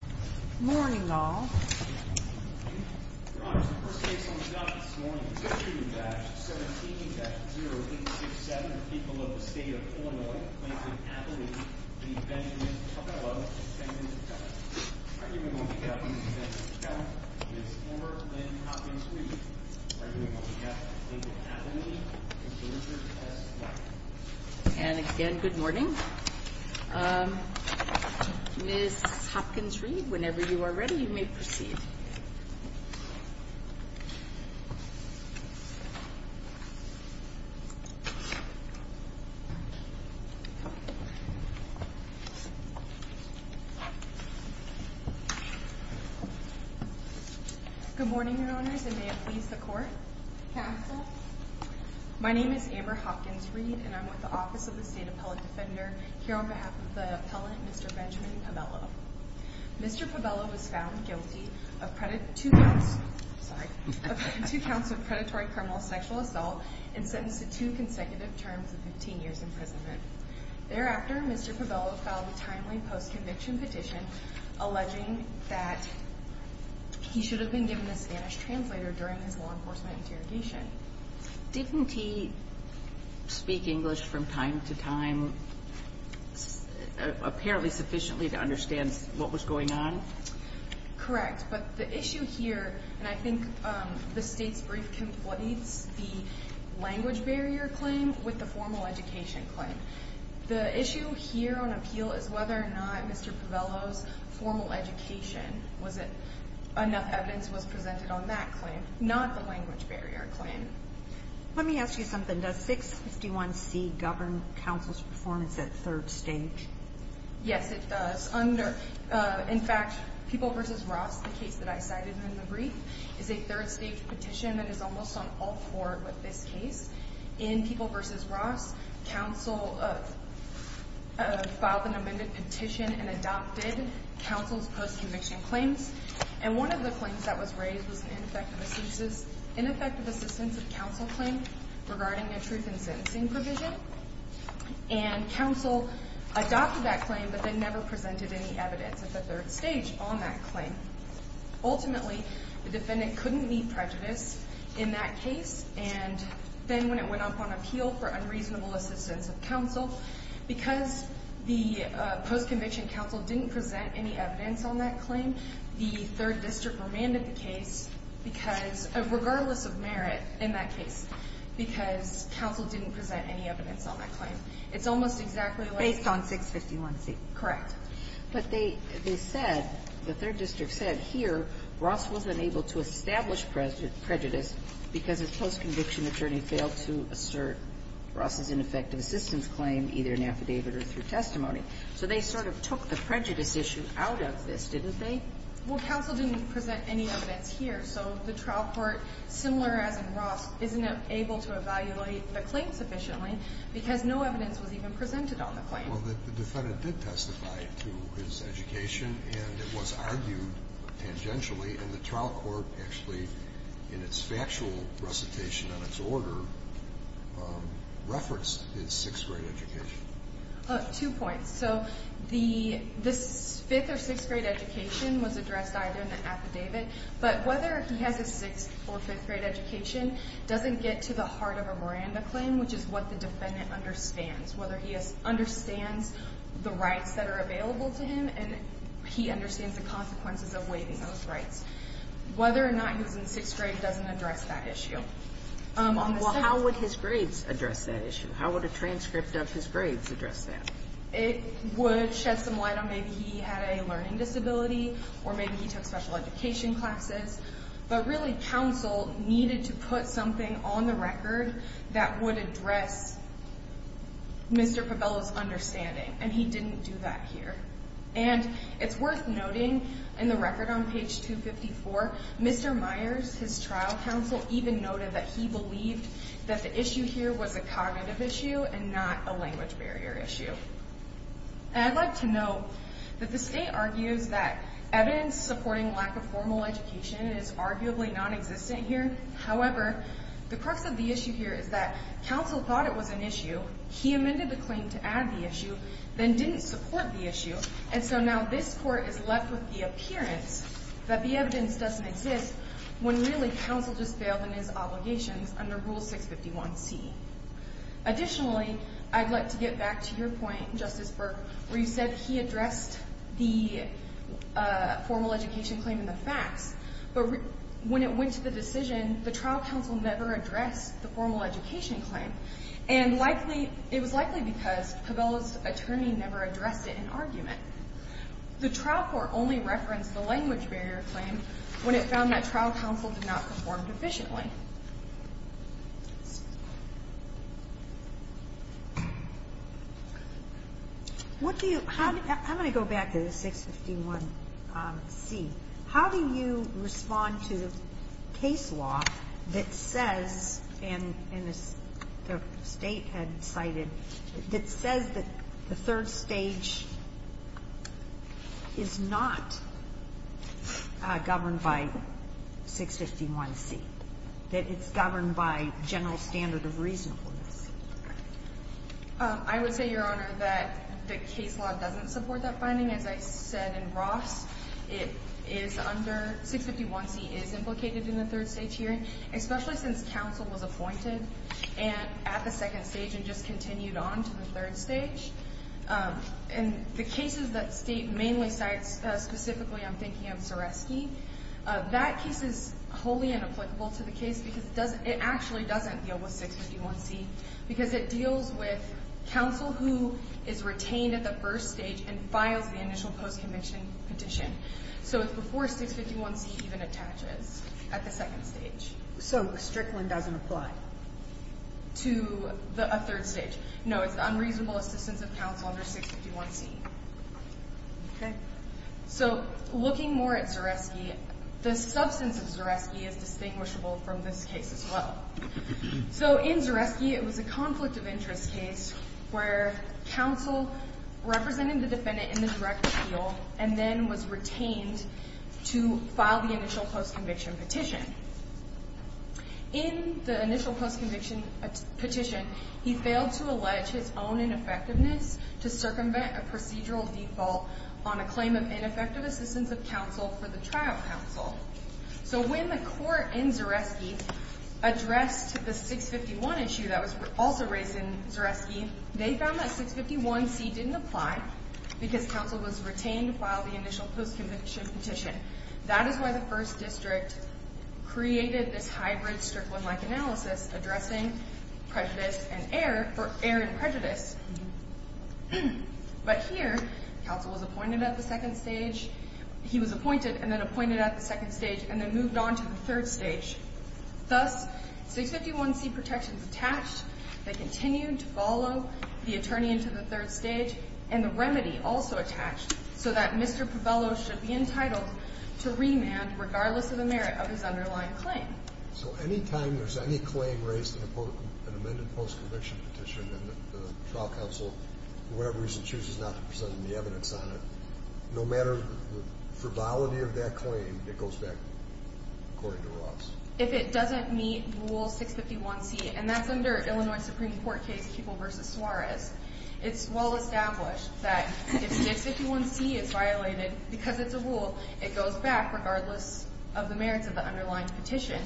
Good morning, all. Your Honors, the first case on the docket this morning is Issue-17-0867, the people of the State of Illinois, Lakeland, Abilene v. Benjamin Pabello v. Benjamin Pabello. Arguing on behalf of Ms. Benjamin Pabello, Ms. Amber Lynn Hopkins-Reid. Arguing on behalf of Lakeland, Abilene v. Richard S. White. And again, good morning. Ms. Hopkins-Reid, whenever you are ready, you may proceed. Good morning, Your Honors, and may it please the Court. Counsel. My name is Amber Hopkins-Reid, and I'm with the Office of the State Appellate Defender here on behalf of the appellant, Mr. Benjamin Pabello. Mr. Pabello was found guilty of two counts of predatory criminal sexual assault and sentenced to two consecutive terms of 15 years' imprisonment. Thereafter, Mr. Pabello filed a timely post-conviction petition alleging that he should have been given a Spanish translator during his law enforcement interrogation. Didn't he speak English from time to time, apparently sufficiently to understand what was going on? Correct, but the issue here, and I think the State's brief completes the language barrier claim with the formal education claim. The issue here on appeal is whether or not Mr. Pabello's formal education, was it enough evidence was presented on that claim, not the language barrier claim. Let me ask you something. Does 651C govern counsel's performance at third stage? Yes, it does. In fact, People v. Ross, the case that I cited in the brief, is a third stage petition that is almost on all four with this case. In People v. Ross, counsel filed an amended petition and adopted counsel's post-conviction claims. And one of the claims that was raised was an ineffective assistance of counsel claim regarding a truth in sentencing provision. And counsel adopted that claim, but then never presented any evidence at the third stage on that claim. Ultimately, the defendant couldn't meet prejudice in that case. And then when it went up on appeal for unreasonable assistance of counsel, because the post-conviction counsel didn't present any evidence on that claim, the third district remanded the case because, regardless of merit in that case, because counsel didn't present any evidence on that claim. It's almost exactly like- Based on 651C. Correct. But they said, the third district said, here, Ross wasn't able to establish prejudice because his post-conviction attorney failed to assert Ross's ineffective assistance claim, either in affidavit or through testimony. So they sort of took the prejudice issue out of this, didn't they? Well, counsel didn't present any evidence here. So the trial court, similar as in Ross, isn't able to evaluate the claim sufficiently because no evidence was even presented on the claim. Well, the defendant did testify to his education, and it was argued tangentially. And the trial court actually, in its factual recitation on its order, referenced his sixth-grade education. Two points. So this fifth- or sixth-grade education was addressed either in the affidavit. But whether he has a sixth- or fifth-grade education doesn't get to the heart of a Miranda claim, which is what the defendant understands. Whether he understands the rights that are available to him, and he understands the consequences of waiving those rights. Whether or not he was in sixth grade doesn't address that issue. Well, how would his grades address that issue? How would a transcript of his grades address that? It would shed some light on maybe he had a learning disability, or maybe he took special education classes. But really, counsel needed to put something on the record that would address Mr. Fabello's understanding, and he didn't do that here. And it's worth noting in the record on page 254, Mr. Myers, his trial counsel, even noted that he believed that the issue here was a cognitive issue and not a language barrier issue. And I'd like to note that the state argues that evidence supporting lack of formal education is arguably nonexistent here. However, the crux of the issue here is that counsel thought it was an issue. He amended the claim to add the issue, then didn't support the issue. And so now this court is left with the appearance that the evidence doesn't exist when really counsel just failed in his obligations under Rule 651C. Additionally, I'd like to get back to your point, Justice Burke, where you said he addressed the formal education claim in the facts. But when it went to the decision, the trial counsel never addressed the formal education claim. And it was likely because Fabello's attorney never addressed it in argument. The trial court only referenced the language barrier claim when it found that trial counsel did not perform efficiently. Okay. What do you – I'm going to go back to the 651C. I would say, Your Honor, that the case law doesn't support that finding. As I said in Ross, it is under – 651C is implicated in the third stage hearing, especially since counsel was appointed and at the second stage and just continued on to the third stage. And the cases that State mainly cites, specifically I'm thinking of Seresky, that case is wholly inapplicable to the case because it doesn't – it actually doesn't deal with 651C. Because it deals with counsel who is retained at the first stage and files the initial post-conviction petition. So it's before 651C even attaches at the second stage. So Strickland doesn't apply? To a third stage. No, it's unreasonable assistance of counsel under 651C. Okay. So looking more at Seresky, the substance of Seresky is distinguishable from this case as well. So in Seresky, it was a conflict of interest case where counsel represented the defendant in the direct appeal and then was retained to file the initial post-conviction petition. In the initial post-conviction petition, he failed to allege his own ineffectiveness to circumvent a procedural default on a claim of ineffective assistance of counsel for the trial counsel. So when the court in Seresky addressed the 651 issue that was also raised in Seresky, they found that 651C didn't apply because counsel was retained to file the initial post-conviction petition. That is why the first district created this hybrid Strickland-like analysis addressing air and prejudice. But here, counsel was appointed at the second stage. He was appointed and then appointed at the second stage and then moved on to the third stage. Thus, 651C protections attached that continued to follow the attorney into the third stage and the remedy also attached so that Mr. Povello should be entitled to remand regardless of the merit of his underlying claim. So any time there's any claim raised in an amended post-conviction petition and the trial counsel, for whatever reason, chooses not to present any evidence on it, no matter the frivolity of that claim, it goes back according to Ross? If it doesn't meet Rule 651C, and that's under Illinois Supreme Court case Keeble v. Suarez, it's well established that if 651C is violated because it's a rule, it goes back regardless of the merits of the underlying petition.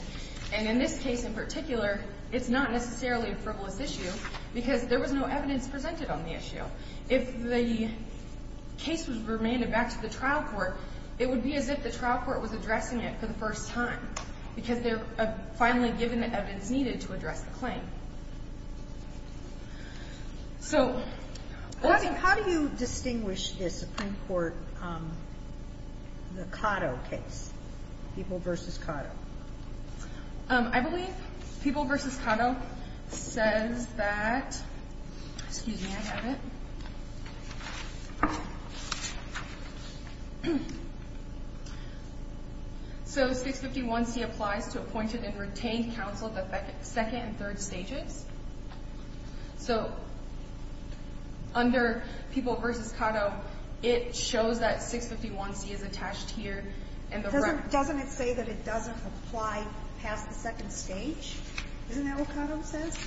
And in this case in particular, it's not necessarily a frivolous issue because there was no evidence presented on the issue. If the case was remanded back to the trial court, it would be as if the trial court was addressing it for the first time because they're finally given the evidence needed to address the claim. So... How do you distinguish the Supreme Court, the Cotto case, Keeble v. Cotto? I believe Keeble v. Cotto says that... Excuse me, I have it. So 651C applies to appointed and retained counsel the second and third stages. So under Keeble v. Cotto, it shows that 651C is attached here and the record... Apply past the second stage? Isn't that what Cotto says?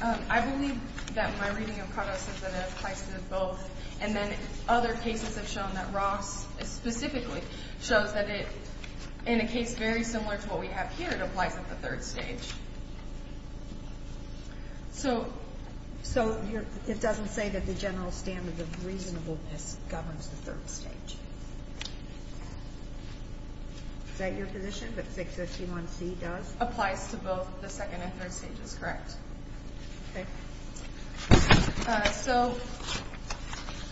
I believe that my reading of Cotto says that it applies to both. And then other cases have shown that Ross specifically shows that it, in a case very similar to what we have here, it applies at the third stage. So it doesn't say that the general standard of reasonableness governs the third stage? Is that your position, that 651C does? Applies to both the second and third stages, correct. Okay. So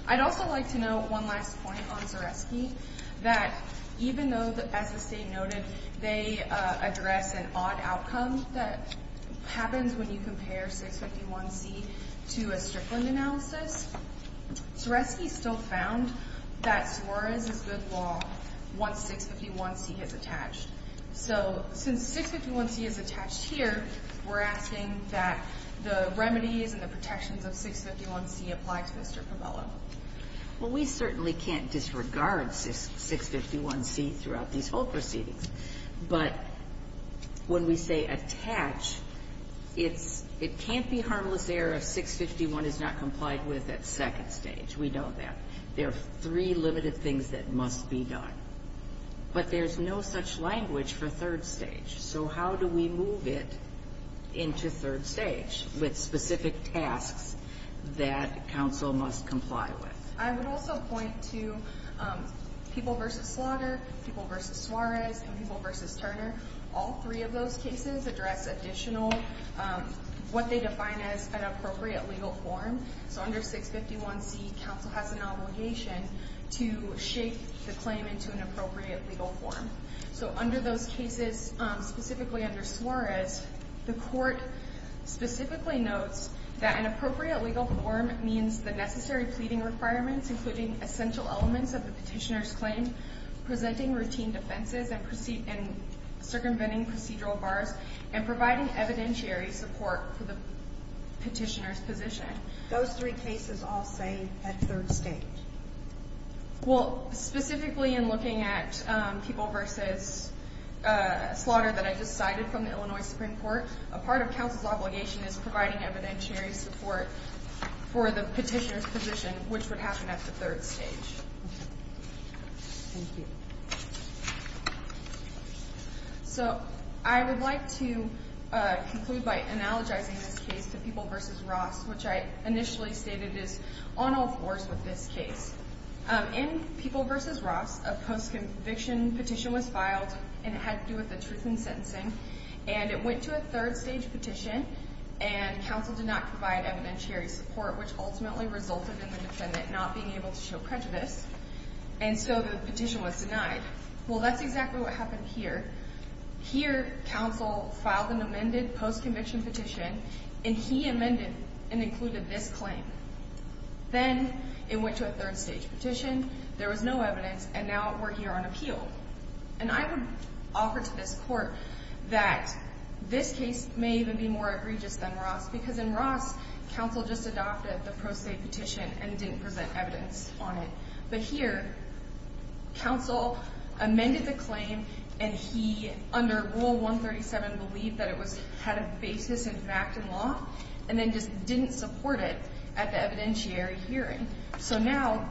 I'd also like to note one last point on Zaresky, that even though, as the state noted, they address an odd outcome that happens when you compare 651C to a Strickland analysis, Zaresky still found that Suarez is good law once 651C is attached. So since 651C is attached here, we're asking that the remedies and the protections of 651C apply to Mr. Povello. Well, we certainly can't disregard 651C throughout these whole proceedings. But when we say attach, it can't be harmless error if 651C is not complied with at second stage. We know that. There are three limited things that must be done. But there's no such language for third stage. So how do we move it into third stage with specific tasks that counsel must comply with? I would also point to people versus slaughter, people versus Suarez, and people versus Turner. All three of those cases address additional what they define as an appropriate legal form. So under 651C, counsel has an obligation to shape the claim into an appropriate legal form. So under those cases, specifically under Suarez, the court specifically notes that an appropriate legal form means the necessary pleading requirements, including essential elements of the petitioner's claim, presenting routine defenses and circumventing procedural bars, and providing evidentiary support for the petitioner's position. Those three cases all say at third stage. Well, specifically in looking at people versus slaughter that I just cited from the Illinois Supreme Court, a part of counsel's obligation is providing evidentiary support for the petitioner's position, which would happen at the third stage. Thank you. So I would like to conclude by analogizing this case to people versus Ross, which I initially stated is on all fours with this case. In people versus Ross, a post-conviction petition was filed, and it had to do with the truth in sentencing. And it went to a third stage petition, and counsel did not provide evidentiary support, which ultimately resulted in the defendant not being able to show prejudice. And so the petition was denied. Well, that's exactly what happened here. Here, counsel filed an amended post-conviction petition, and he amended and included this claim. Then it went to a third stage petition. There was no evidence, and now we're here on appeal. And I would offer to this court that this case may even be more egregious than Ross, because in Ross, counsel just adopted the pro se petition and didn't present evidence on it. But here, counsel amended the claim, and he, under Rule 137, believed that it had a basis in fact and law, and then just didn't support it at the evidentiary hearing. So now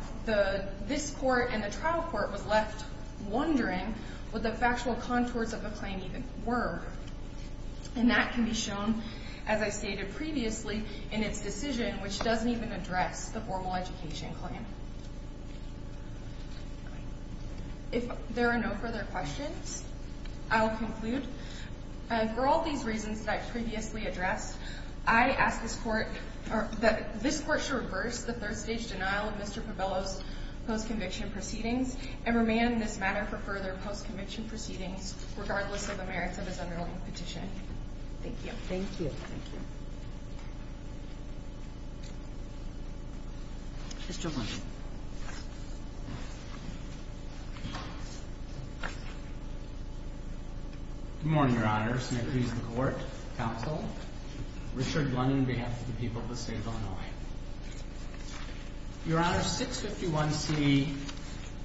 this court and the trial court was left wondering what the factual contours of the claim even were. And that can be shown, as I stated previously, in its decision, which doesn't even address the formal education claim. If there are no further questions, I will conclude. For all these reasons that I previously addressed, I ask this court that this court should reverse the third stage denial of Mr. Povello's post-conviction proceedings and remand this matter for further post-conviction proceedings, regardless of the merits of his underlying petition. Thank you. Thank you. Mr. Blunting. Good morning, Your Honors. May it please the Court, Counsel, Richard Blunting, on behalf of the people of the State of Illinois. Your Honors, 651C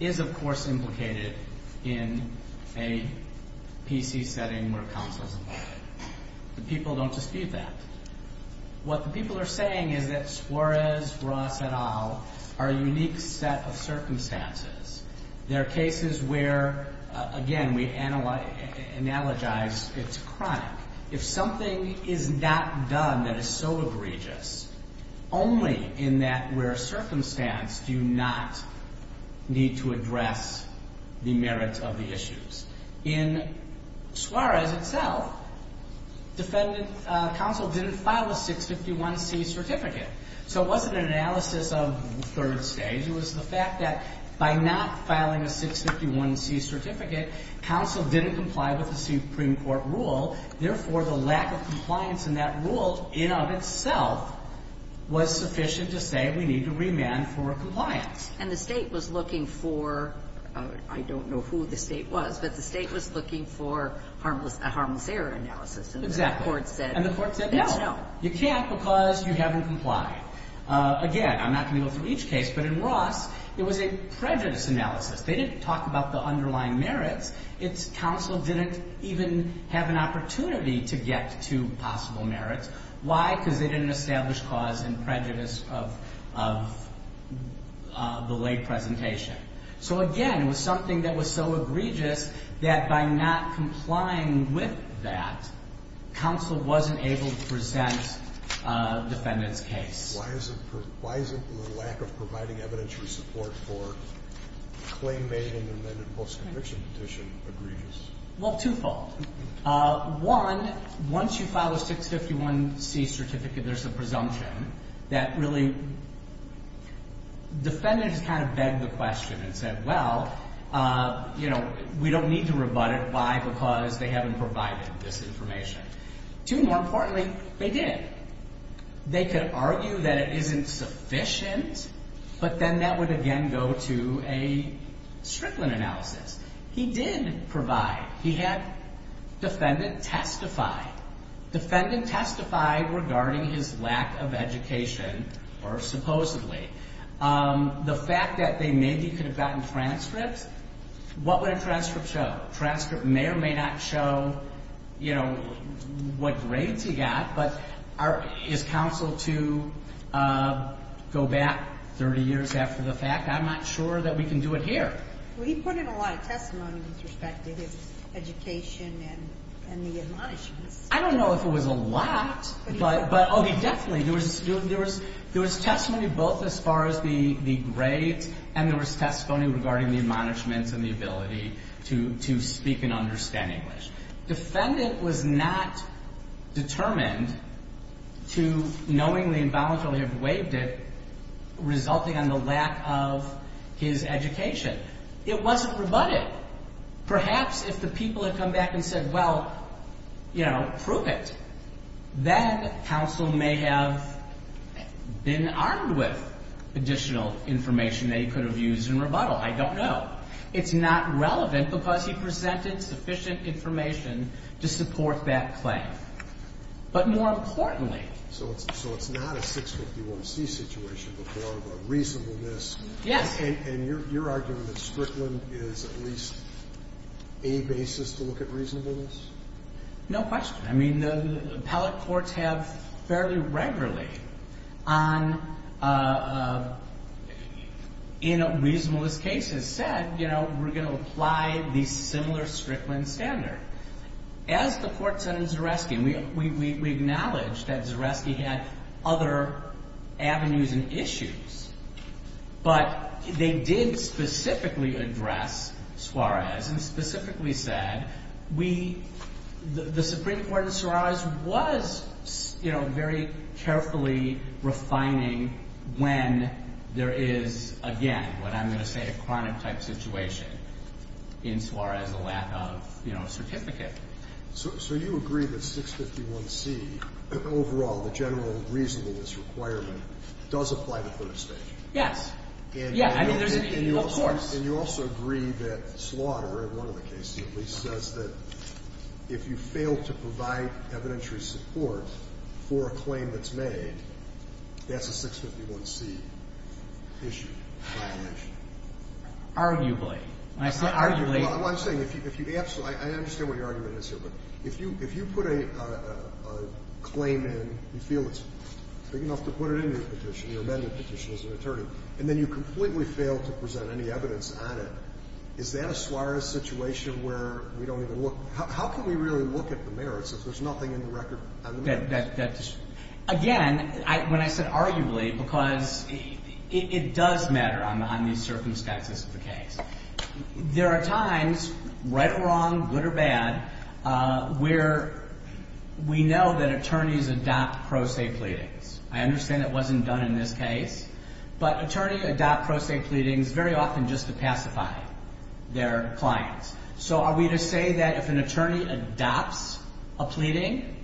is, of course, implicated in a PC setting where counsel is involved. The people don't dispute that. What the people are saying is that Suarez, Ross, et al. are a unique set of circumstances. They're cases where, again, we analogize it's a crime. If something is not done that is so egregious, only in that rare circumstance do you not need to address the merits of the issues. In Suarez itself, counsel didn't file a 651C certificate. So it wasn't an analysis of the third stage. It was the fact that by not filing a 651C certificate, counsel didn't comply with the Supreme Court rule. Therefore, the lack of compliance in that rule, in and of itself, was sufficient to say we need to remand for compliance. And the State was looking for, I don't know who the State was, but the State was looking for a harmless error analysis. Exactly. And the Court said, no, you can't because you haven't complied. Again, I'm not going to go through each case, but in Ross, it was a prejudice analysis. They didn't talk about the underlying merits. Counsel didn't even have an opportunity to get to possible merits. Why? Because they didn't establish cause and prejudice of the lay presentation. So, again, it was something that was so egregious that by not complying with that, counsel wasn't able to present a defendant's case. Why is it the lack of providing evidentiary support for claim made in the amended post-conviction petition egregious? Well, twofold. One, once you file a 651C certificate, there's a presumption that really defendants kind of beg the question and said, well, you know, we don't need to rebut it. Why? Because they haven't provided this information. Two, more importantly, they did. They could argue that it isn't sufficient, but then that would again go to a Strickland analysis. He did provide. He had defendant testify. Defendant testified regarding his lack of education, or supposedly. The fact that they maybe could have gotten transcripts, what would a transcript show? A transcript may or may not show, you know, what grades he got, but is counsel to go back 30 years after the fact? I'm not sure that we can do it here. Well, he put in a lot of testimony with respect to his education and the admonishments. I don't know if it was a lot, but, oh, definitely. There was testimony both as far as the grades, and there was testimony regarding the admonishments and the ability to speak and understand English. Defendant was not determined to knowingly and voluntarily have waived it, resulting in the lack of his education. It wasn't rebutted. Perhaps if the people had come back and said, well, you know, prove it, then counsel may have been armed with additional information that he could have used in rebuttal. I don't know. It's not relevant because he presented sufficient information to support that claim. But more importantly ---- So it's not a 651C situation, but more of a reasonableness. Yes. And you're arguing that Strickland is at least a basis to look at reasonableness? No question. I mean, the appellate courts have fairly regularly, in a reasonableness case, said, you know, we're going to apply the similar Strickland standard. As the courts in Zaresky, we acknowledge that Zaresky had other avenues and issues, but they did specifically address Suarez and specifically said, we ---- the Supreme Court in Suarez was, you know, very carefully refining when there is, again, what I'm going to say, a chronic-type situation in Suarez, a lack of, you know, a certificate. So you agree that 651C, overall, the general reasonableness requirement, does apply to third estate? Yes. Yeah. I mean, there's a need, of course. And you also agree that Slaughter, in one of the cases at least, says that if you fail to provide evidentiary support for a claim that's made, that's a 651C issue, violation. Arguably. When I say arguably ---- Well, I'm saying if you absolutely ---- I understand what your argument is here, but if you put a claim in, you feel it's big enough to put it in the petition, your amendment petition as an attorney, and then you completely fail to present any evidence on it, is that a Suarez situation where we don't even look ---- how can we really look at the merits if there's nothing in the record on the merits? Again, when I said arguably, because it does matter on these circumstances of the case, there are times, right or wrong, good or bad, where we know that attorneys adopt pro se pleadings. I understand it wasn't done in this case, but attorney adopt pro se pleadings very often just to pacify their clients. So are we to say that if an attorney adopts a pleading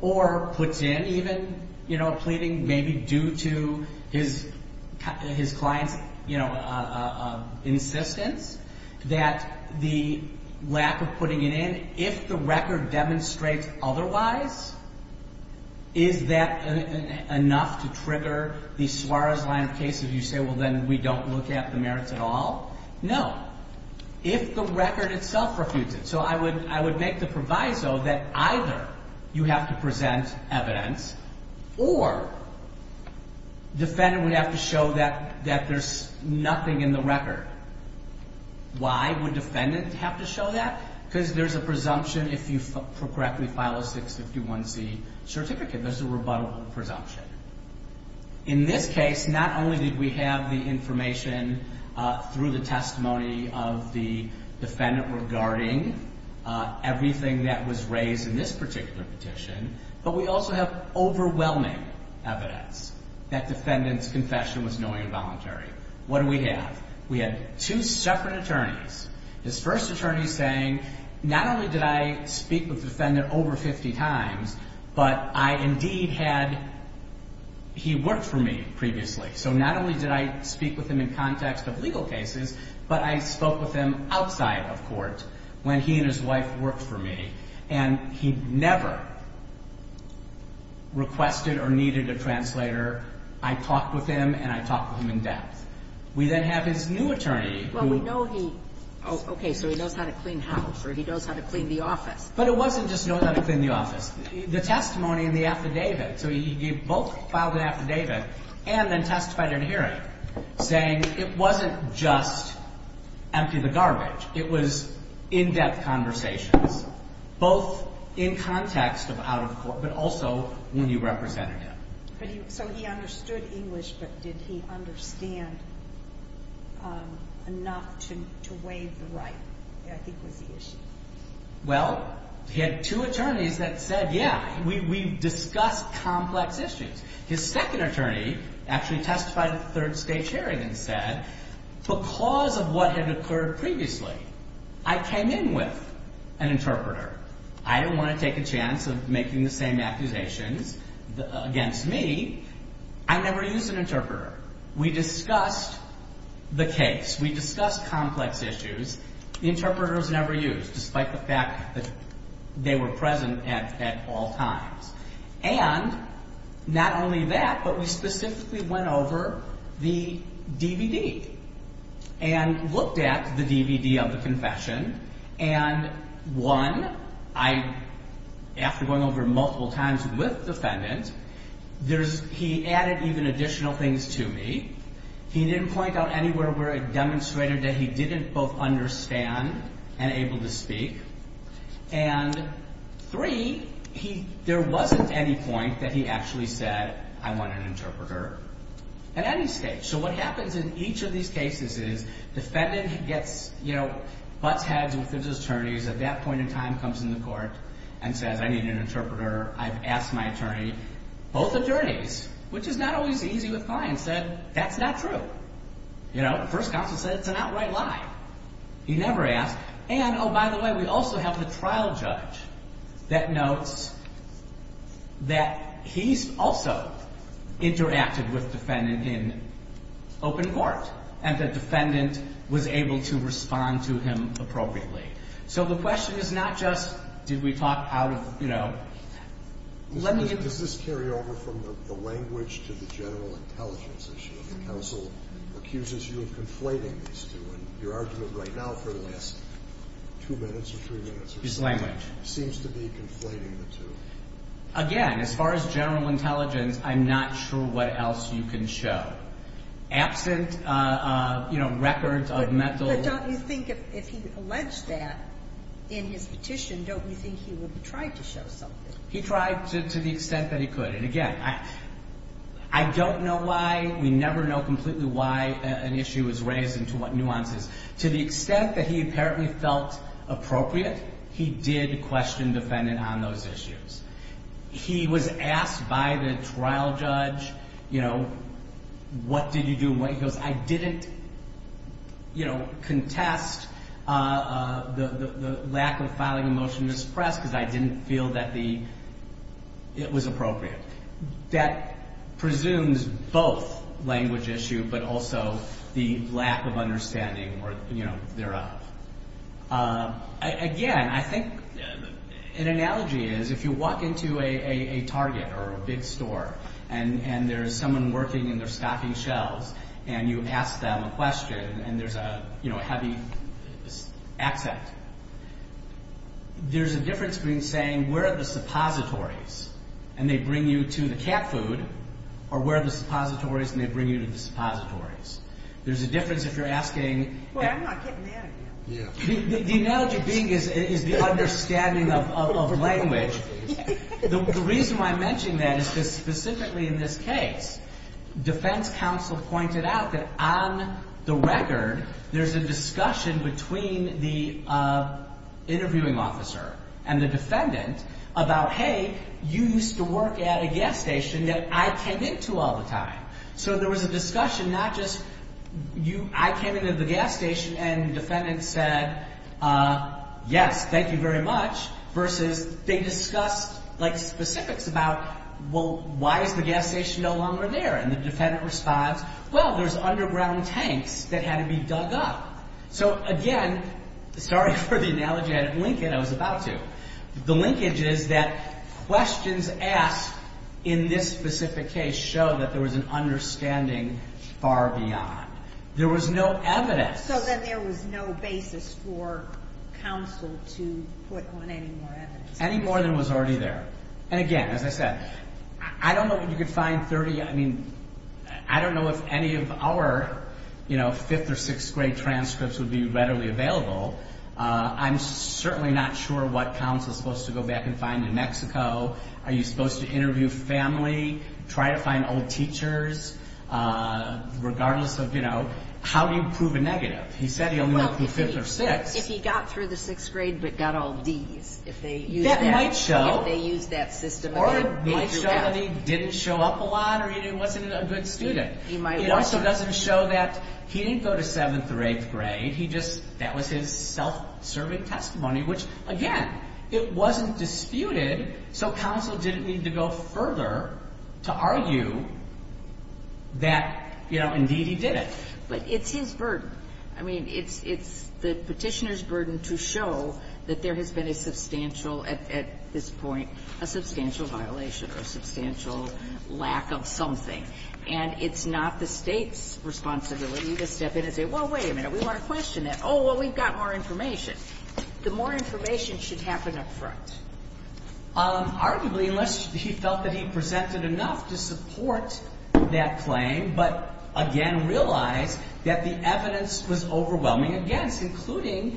or puts in even a pleading maybe due to his client's insistence, that the lack of putting it in, if the record demonstrates otherwise, is that enough to trigger the Suarez line of cases? You say, well, then we don't look at the merits at all? No. If the record itself refutes it. So I would make the proviso that either you have to present evidence or defendant would have to show that there's nothing in the record. Why would defendant have to show that? Because there's a presumption if you correctly file a 651C certificate. There's a rebuttable presumption. In this case, not only did we have the information through the testimony of the defendant regarding everything that was raised in this particular petition, but we also have overwhelming evidence that defendant's confession was knowing and voluntary. What do we have? We have two separate attorneys. His first attorney saying, not only did I speak with the defendant over 50 times, but I indeed had he worked for me previously. So not only did I speak with him in context of legal cases, but I spoke with him outside of court when he and his wife worked for me. And he never requested or needed a translator. I talked with him, and I talked with him in depth. We then have his new attorney. Okay, so he knows how to clean house, or he knows how to clean the office. But it wasn't just know how to clean the office. The testimony and the affidavit. So he both filed an affidavit and then testified in a hearing saying it wasn't just empty the garbage. It was in-depth conversations, both in context of out of court, but also when you represented him. So he understood English, but did he understand enough to waive the right, I think was the issue. Well, he had two attorneys that said, yeah, we discussed complex issues. His second attorney actually testified at the third stage hearing and said, because of what had occurred previously, I came in with an interpreter. I didn't want to take a chance of making the same accusations against me. I never used an interpreter. We discussed the case. We discussed complex issues. The interpreter was never used, despite the fact that they were present at all times. And not only that, but we specifically went over the DVD and looked at the DVD of the confession and, one, after going over multiple times with defendant, he added even additional things to me. He didn't point out anywhere where it demonstrated that he didn't both understand and able to speak. And, three, there wasn't any point that he actually said, I want an interpreter at any stage. So what happens in each of these cases is defendant gets, you know, butts heads with his attorneys at that point in time, comes in the court, and says, I need an interpreter. I've asked my attorney. Both attorneys, which is not always easy with clients, said, that's not true. You know, the first counsel said it's an outright lie. He never asked. And, oh, by the way, we also have the trial judge that notes that he's also interacted with defendant in open court and the defendant was able to respond to him appropriately. So the question is not just, did we talk out of, you know, let me. Does this carry over from the language to the general intelligence issue? The counsel accuses you of conflating these two, and your argument right now for the last two minutes or three minutes or so. His language. Seems to be conflating the two. Again, as far as general intelligence, I'm not sure what else you can show. Absent records of mental. But don't you think if he alleged that in his petition, don't you think he would have tried to show something? He tried to the extent that he could. And, again, I don't know why. We never know completely why an issue is raised and to what nuances. To the extent that he apparently felt appropriate, he did question defendant on those issues. He was asked by the trial judge, you know, what did you do? He goes, I didn't, you know, contest the lack of filing a motion to suppress because I didn't feel that it was appropriate. That presumes both language issue but also the lack of understanding thereof. Again, I think an analogy is if you walk into a Target or a big store and there's someone working in their stocking shelves and you ask them a question and there's a heavy accent, there's a difference between saying where are the suppositories and they bring you to the cat food or where are the suppositories and they bring you to the suppositories. There's a difference if you're asking. Well, I'm not getting that again. The analogy being is the understanding of language. The reason why I'm mentioning that is because specifically in this case, defense counsel pointed out that on the record there's a discussion between the interviewing officer and the defendant about, hey, you used to work at a gas station that I came into all the time. So there was a discussion not just I came into the gas station and the defendant said yes, thank you very much versus they discussed specifics about why is the gas station no longer there and the defendant responds, well, there's underground tanks that had to be dug up. So again, sorry for the analogy I had at Lincoln. I was about to. The linkage is that questions asked in this specific case show that there was an understanding far beyond. There was no evidence. So then there was no basis for counsel to put on any more evidence. Any more than was already there. And again, as I said, I don't know if you could find 30. I mean, I don't know if any of our fifth or sixth grade transcripts would be readily available. I'm certainly not sure what counsel is supposed to go back and find in Mexico. Are you supposed to interview family? Try to find old teachers? Regardless of, you know, how do you prove a negative? He said he only went through fifth or sixth. If he got through the sixth grade but got all Ds. That might show. If they used that system again. Or it might show that he didn't show up a lot or he wasn't a good student. It also doesn't show that he didn't go to seventh or eighth grade. That was his self-serving testimony, which again, it wasn't disputed. So counsel didn't need to go further to argue that, you know, indeed he did it. But it's his burden. I mean, it's the petitioner's burden to show that there has been a substantial at this point, a substantial violation or a substantial lack of something. And it's not the State's responsibility to step in and say, well, wait a minute. We want to question that. Oh, well, we've got more information. The more information should happen up front. Arguably, unless he felt that he presented enough to support that claim. But again, realize that the evidence was overwhelming against, including,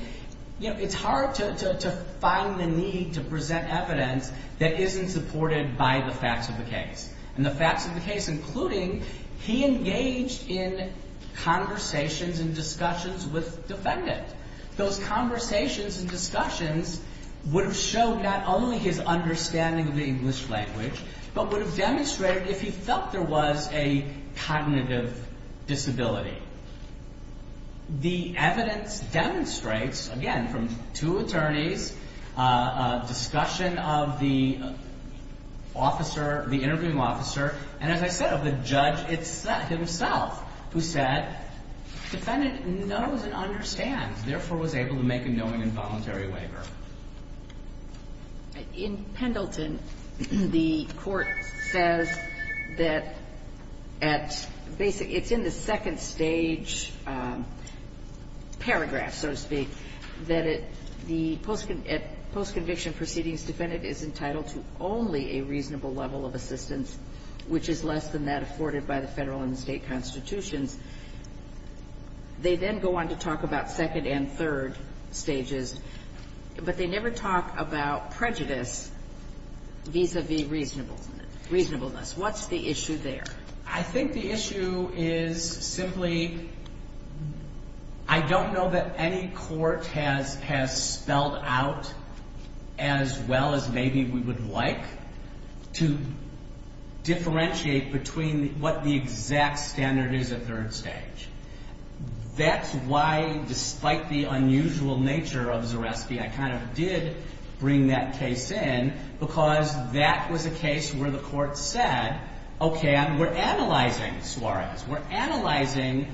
you know, it's hard to find the need to present evidence that isn't supported by the facts of the case. And the facts of the case, including he engaged in conversations and discussions with defendant. Those conversations and discussions would have showed not only his understanding of the English language, but would have demonstrated if he felt there was a cognitive disability. The evidence demonstrates, again, from two attorneys, discussion of the officer, the interviewing officer, and as I said, of the judge himself, who said, defendant knows and understands, therefore, was able to make a knowing and voluntary waiver. In Pendleton, the Court says that at basic, it's in the second stage paragraph, so to speak, that at post-conviction proceedings, defendant is entitled to only a reasonable level of assistance, which is less than that afforded by the federal and state constitutions. They then go on to talk about second and third stages, but they never talk about prejudice vis-à-vis reasonableness. What's the issue there? I think the issue is simply I don't know that any court has spelled out as well as maybe we would like to differentiate between what the exact standard is at third stage. That's why, despite the unusual nature of Zareski, I kind of did bring that case in because that was a case where the Court said, okay, we're analyzing soirees. We're analyzing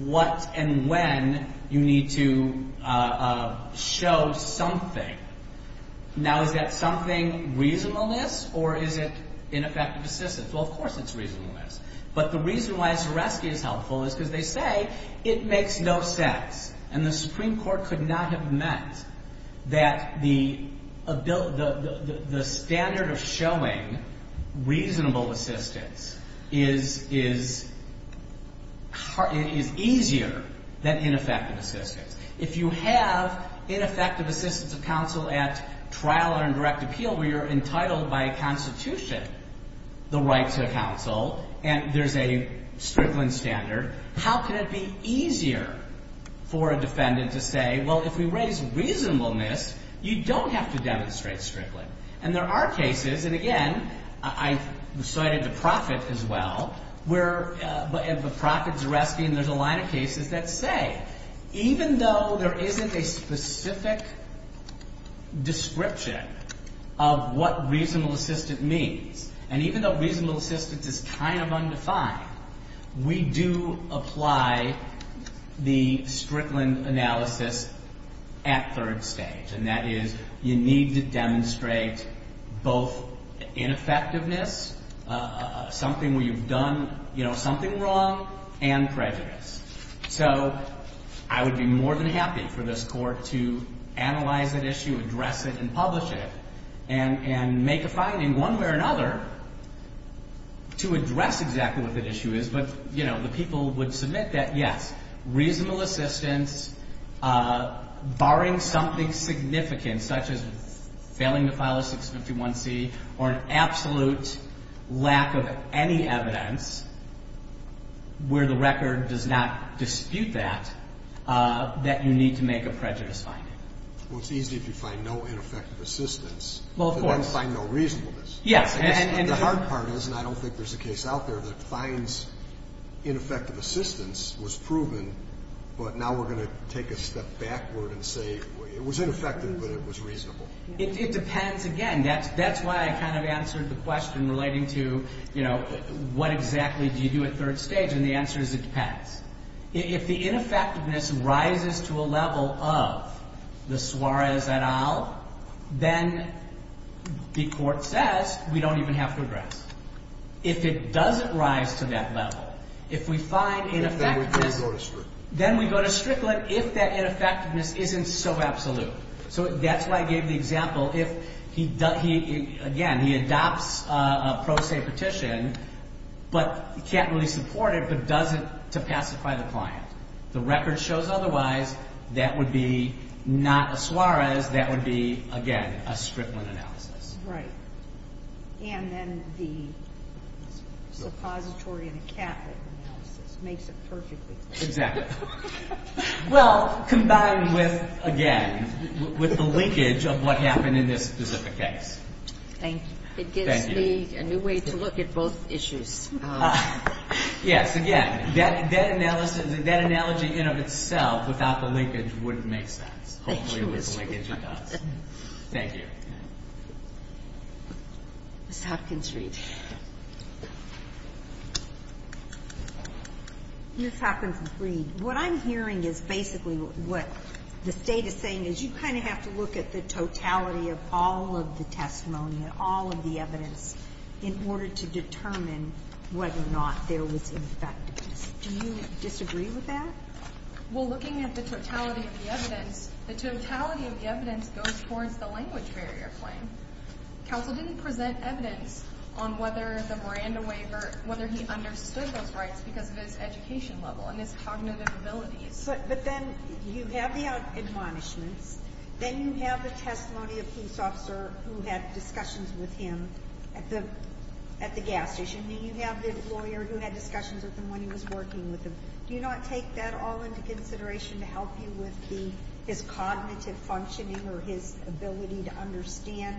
what and when you need to show something. Now, is that something reasonableness or is it ineffective assistance? Well, of course it's reasonableness, but the reason why Zareski is helpful is because they say it makes no sense, and the Supreme Court could not have meant that the standard of showing reasonable assistance is easier than ineffective assistance. If you have ineffective assistance of counsel at trial or in direct appeal where you're entitled by a constitution the right to counsel and there's a Strickland standard, how can it be easier for a defendant to say, well, if we raise reasonableness, you don't have to demonstrate Strickland. And there are cases, and again, I cited the Profit as well, where the Profit, Zareski, and there's a line of cases that say, even though there isn't a specific description of what reasonable assistance means, and even though reasonable assistance is kind of undefined, we do apply the Strickland analysis at third stage, and that is you need to demonstrate both ineffectiveness, something where you've done, you know, something wrong, and prejudice. So I would be more than happy for this Court to analyze that issue, address it, and publish it, and make a finding one way or another to address exactly what that issue is, but, you know, the people would submit that, yes, reasonable assistance, barring something significant, such as failing to file a 651C, or an absolute lack of any evidence where the record does not dispute that, that you need to make a prejudice finding. Well, it's easy if you find no ineffective assistance. Well, of course. Then find no reasonableness. Yes. And the hard part is, and I don't think there's a case out there that finds ineffective assistance was proven, but now we're going to take a step backward and say it was ineffective, but it was reasonable. It depends. Again, that's why I kind of answered the question relating to, you know, what exactly do you do at third stage, and the answer is it depends. If the ineffectiveness rises to a level of the Suarez et al., then the Court says we don't even have to address it. If it doesn't rise to that level, if we find ineffectiveness. Then we go to Strickland. Then we go to Strickland if that ineffectiveness isn't so absolute. So that's why I gave the example if, again, he adopts a pro se petition, but can't really support it, but does it to pacify the client. The record shows otherwise that would be not a Suarez, that would be, again, a Strickland analysis. Right. And then the suppository and a Catholic analysis makes it perfectly clear. Exactly. Well, combined with, again, with the linkage of what happened in this specific case. Thank you. Thank you. It gives me a new way to look at both issues. Yes, again, that analysis, that analogy in of itself without the linkage wouldn't make sense. Hopefully with the linkage it does. Thank you. Ms. Hopkins-Reid. Ms. Hopkins-Reid, what I'm hearing is basically what the state is saying is you kind of have to look at the totality of all of the testimony, all of the evidence in order to determine whether or not there was ineffectiveness. Do you disagree with that? Well, looking at the totality of the evidence, the totality of the evidence goes towards the language barrier claim. Counsel didn't present evidence on whether the Miranda waiver, whether he understood those rights because of his education level and his cognitive abilities. But then you have the admonishments. Then you have the testimony of a police officer who had discussions with him at the gas station. Then you have the lawyer who had discussions with him when he was working with him. Do you not take that all into consideration to help you with his cognitive functioning or his ability to understand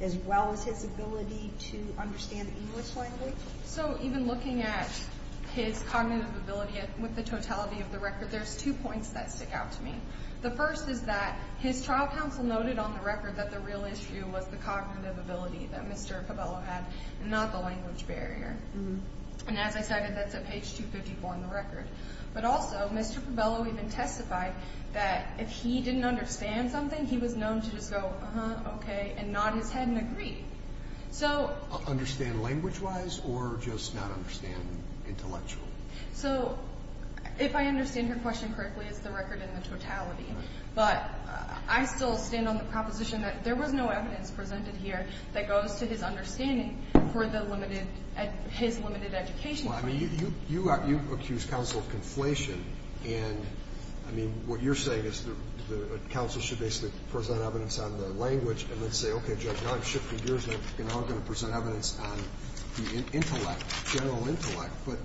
as well as his ability to understand English language? So even looking at his cognitive ability with the totality of the record, there's two points that stick out to me. The first is that his trial counsel noted on the record that the real issue was the cognitive ability that Mr. Cabello had and not the language barrier. And as I said, that's at page 254 on the record. But also, Mr. Cabello even testified that if he didn't understand something, he was known to just go, uh-huh, okay, and nod his head and agree. Understand language-wise or just not understand intellectually? So if I understand your question correctly, it's the record and the totality. But I still stand on the proposition that there was no evidence presented here that goes to his understanding for the limited, his limited education. Well, I mean, you accuse counsel of conflation. And, I mean, what you're saying is that counsel should basically present evidence on the language and then say, okay, Judge, now I'm shifting gears. Now I'm going to present evidence on the intellect, general intellect. But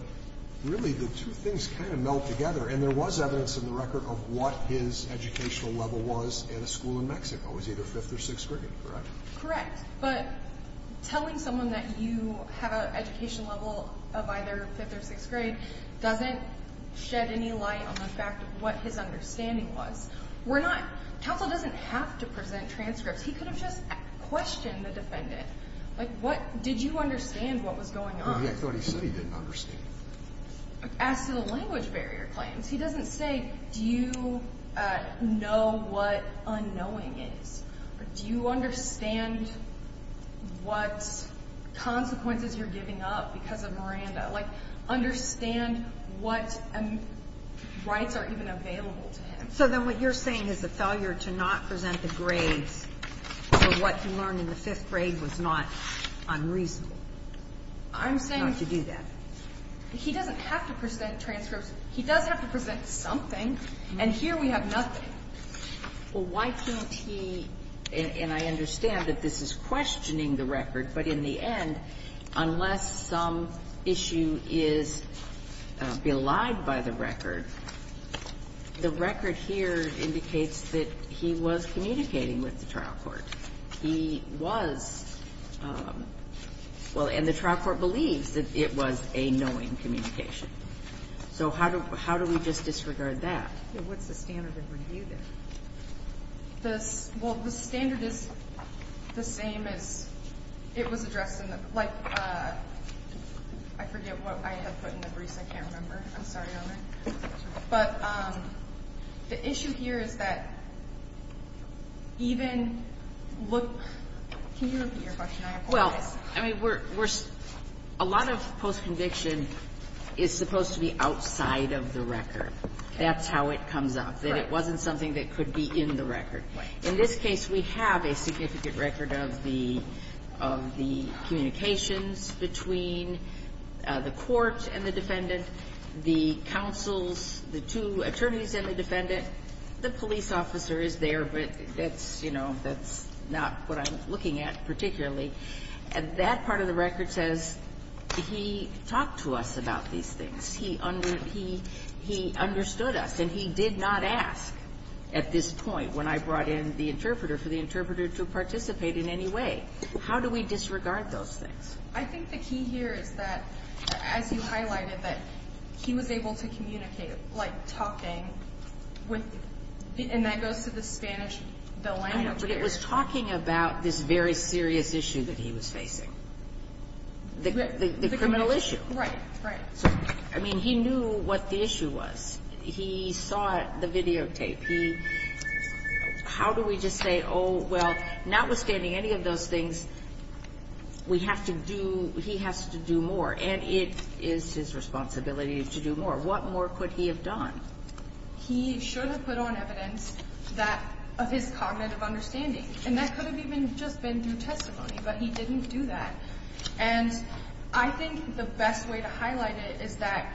really, the two things kind of meld together. And there was evidence in the record of what his educational level was in a school in Mexico. It was either fifth or sixth grade, correct? Correct. But telling someone that you have an education level of either fifth or sixth grade doesn't shed any light on the fact of what his understanding was. We're not – counsel doesn't have to present transcripts. He could have just questioned the defendant. Like, what – did you understand what was going on? I thought he said he didn't understand. As to the language barrier claims, he doesn't say, do you know what unknowing is? Or do you understand what consequences you're giving up because of Miranda? Like, understand what rights are even available to him. So then what you're saying is the failure to not present the grades for what he learned in the fifth grade was not unreasonable. I'm saying not to do that. He doesn't have to present transcripts. He does have to present something, and here we have nothing. Well, why can't he – and I understand that this is questioning the record, but in the end, unless some issue is belied by the record, the record here indicates that he was communicating with the trial court. He was – well, and the trial court believes that it was a knowing communication. So how do we just disregard that? What's the standard of review there? Well, the standard is the same as it was addressed in the – like, I forget what I had put in the briefs. I can't remember. I'm sorry, Honor. It's okay. But the issue here is that even look – can you repeat your question? I apologize. Well, I mean, we're – a lot of postconviction is supposed to be outside of the record. That's how it comes up, that it wasn't something that could be in the record. In this case, we have a significant record of the – of the communications between the court and the defendant, the counsels, the two attorneys and the defendant. The police officer is there, but that's – you know, that's not what I'm looking at particularly. That part of the record says he talked to us about these things. He understood us, and he did not ask at this point when I brought in the interpreter for the interpreter to participate in any way. How do we disregard those things? I think the key here is that, as you highlighted, that he was able to communicate like talking with – and that goes to the Spanish – the language here. But it was talking about this very serious issue that he was facing, the criminal issue. Right, right. So, I mean, he knew what the issue was. He saw the videotape. How do we just say, oh, well, notwithstanding any of those things, we have to do – he has to do more, and it is his responsibility to do more. What more could he have done? He should have put on evidence that – of his cognitive understanding, and that could have even just been through testimony, but he didn't do that. And I think the best way to highlight it is that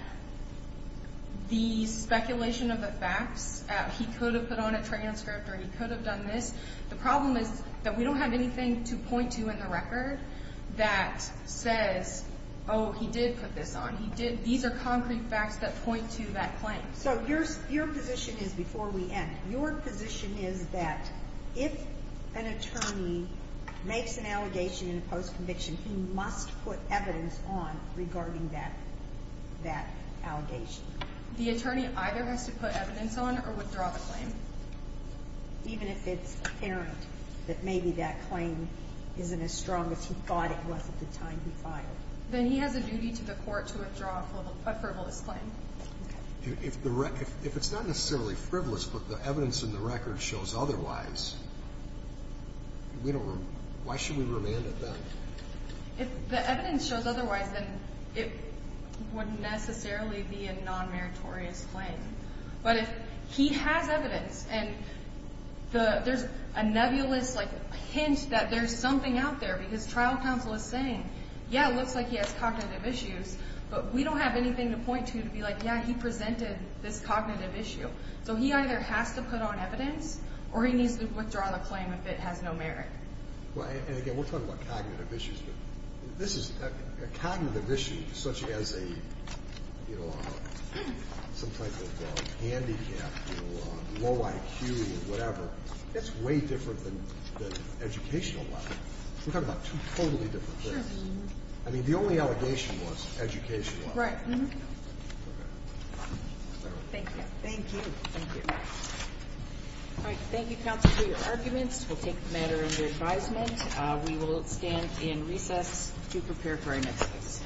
the speculation of the facts, he could have put on a transcript or he could have done this. The problem is that we don't have anything to point to in the record that says, oh, he did put this on. He did – these are concrete facts that point to that claim. So your position is, before we end, your position is that if an attorney makes an allegation in a post-conviction, he must put evidence on regarding that allegation. The attorney either has to put evidence on or withdraw the claim? Even if it's apparent that maybe that claim isn't as strong as he thought it was at the time he filed. Then he has a duty to the court to withdraw a frivolous claim. If it's not necessarily frivolous, but the evidence in the record shows otherwise, why should we remand it then? If the evidence shows otherwise, then it wouldn't necessarily be a non-meritorious claim. But if he has evidence and there's a nebulous hint that there's something out there because trial counsel is saying, yeah, it looks like he has cognitive issues, but we don't have anything to point to to be like, yeah, he presented this cognitive issue. So he either has to put on evidence or he needs to withdraw the claim if it has no merit. And again, we're talking about cognitive issues, but this is a cognitive issue such as some type of handicap, low IQ or whatever, that's way different than educational level. We're talking about two totally different things. I mean, the only allegation was educational. Right. Thank you. Thank you. Thank you. All right. Thank you, counsel, for your arguments. We'll take the matter into advisement. We will stand in recess to prepare for our next case.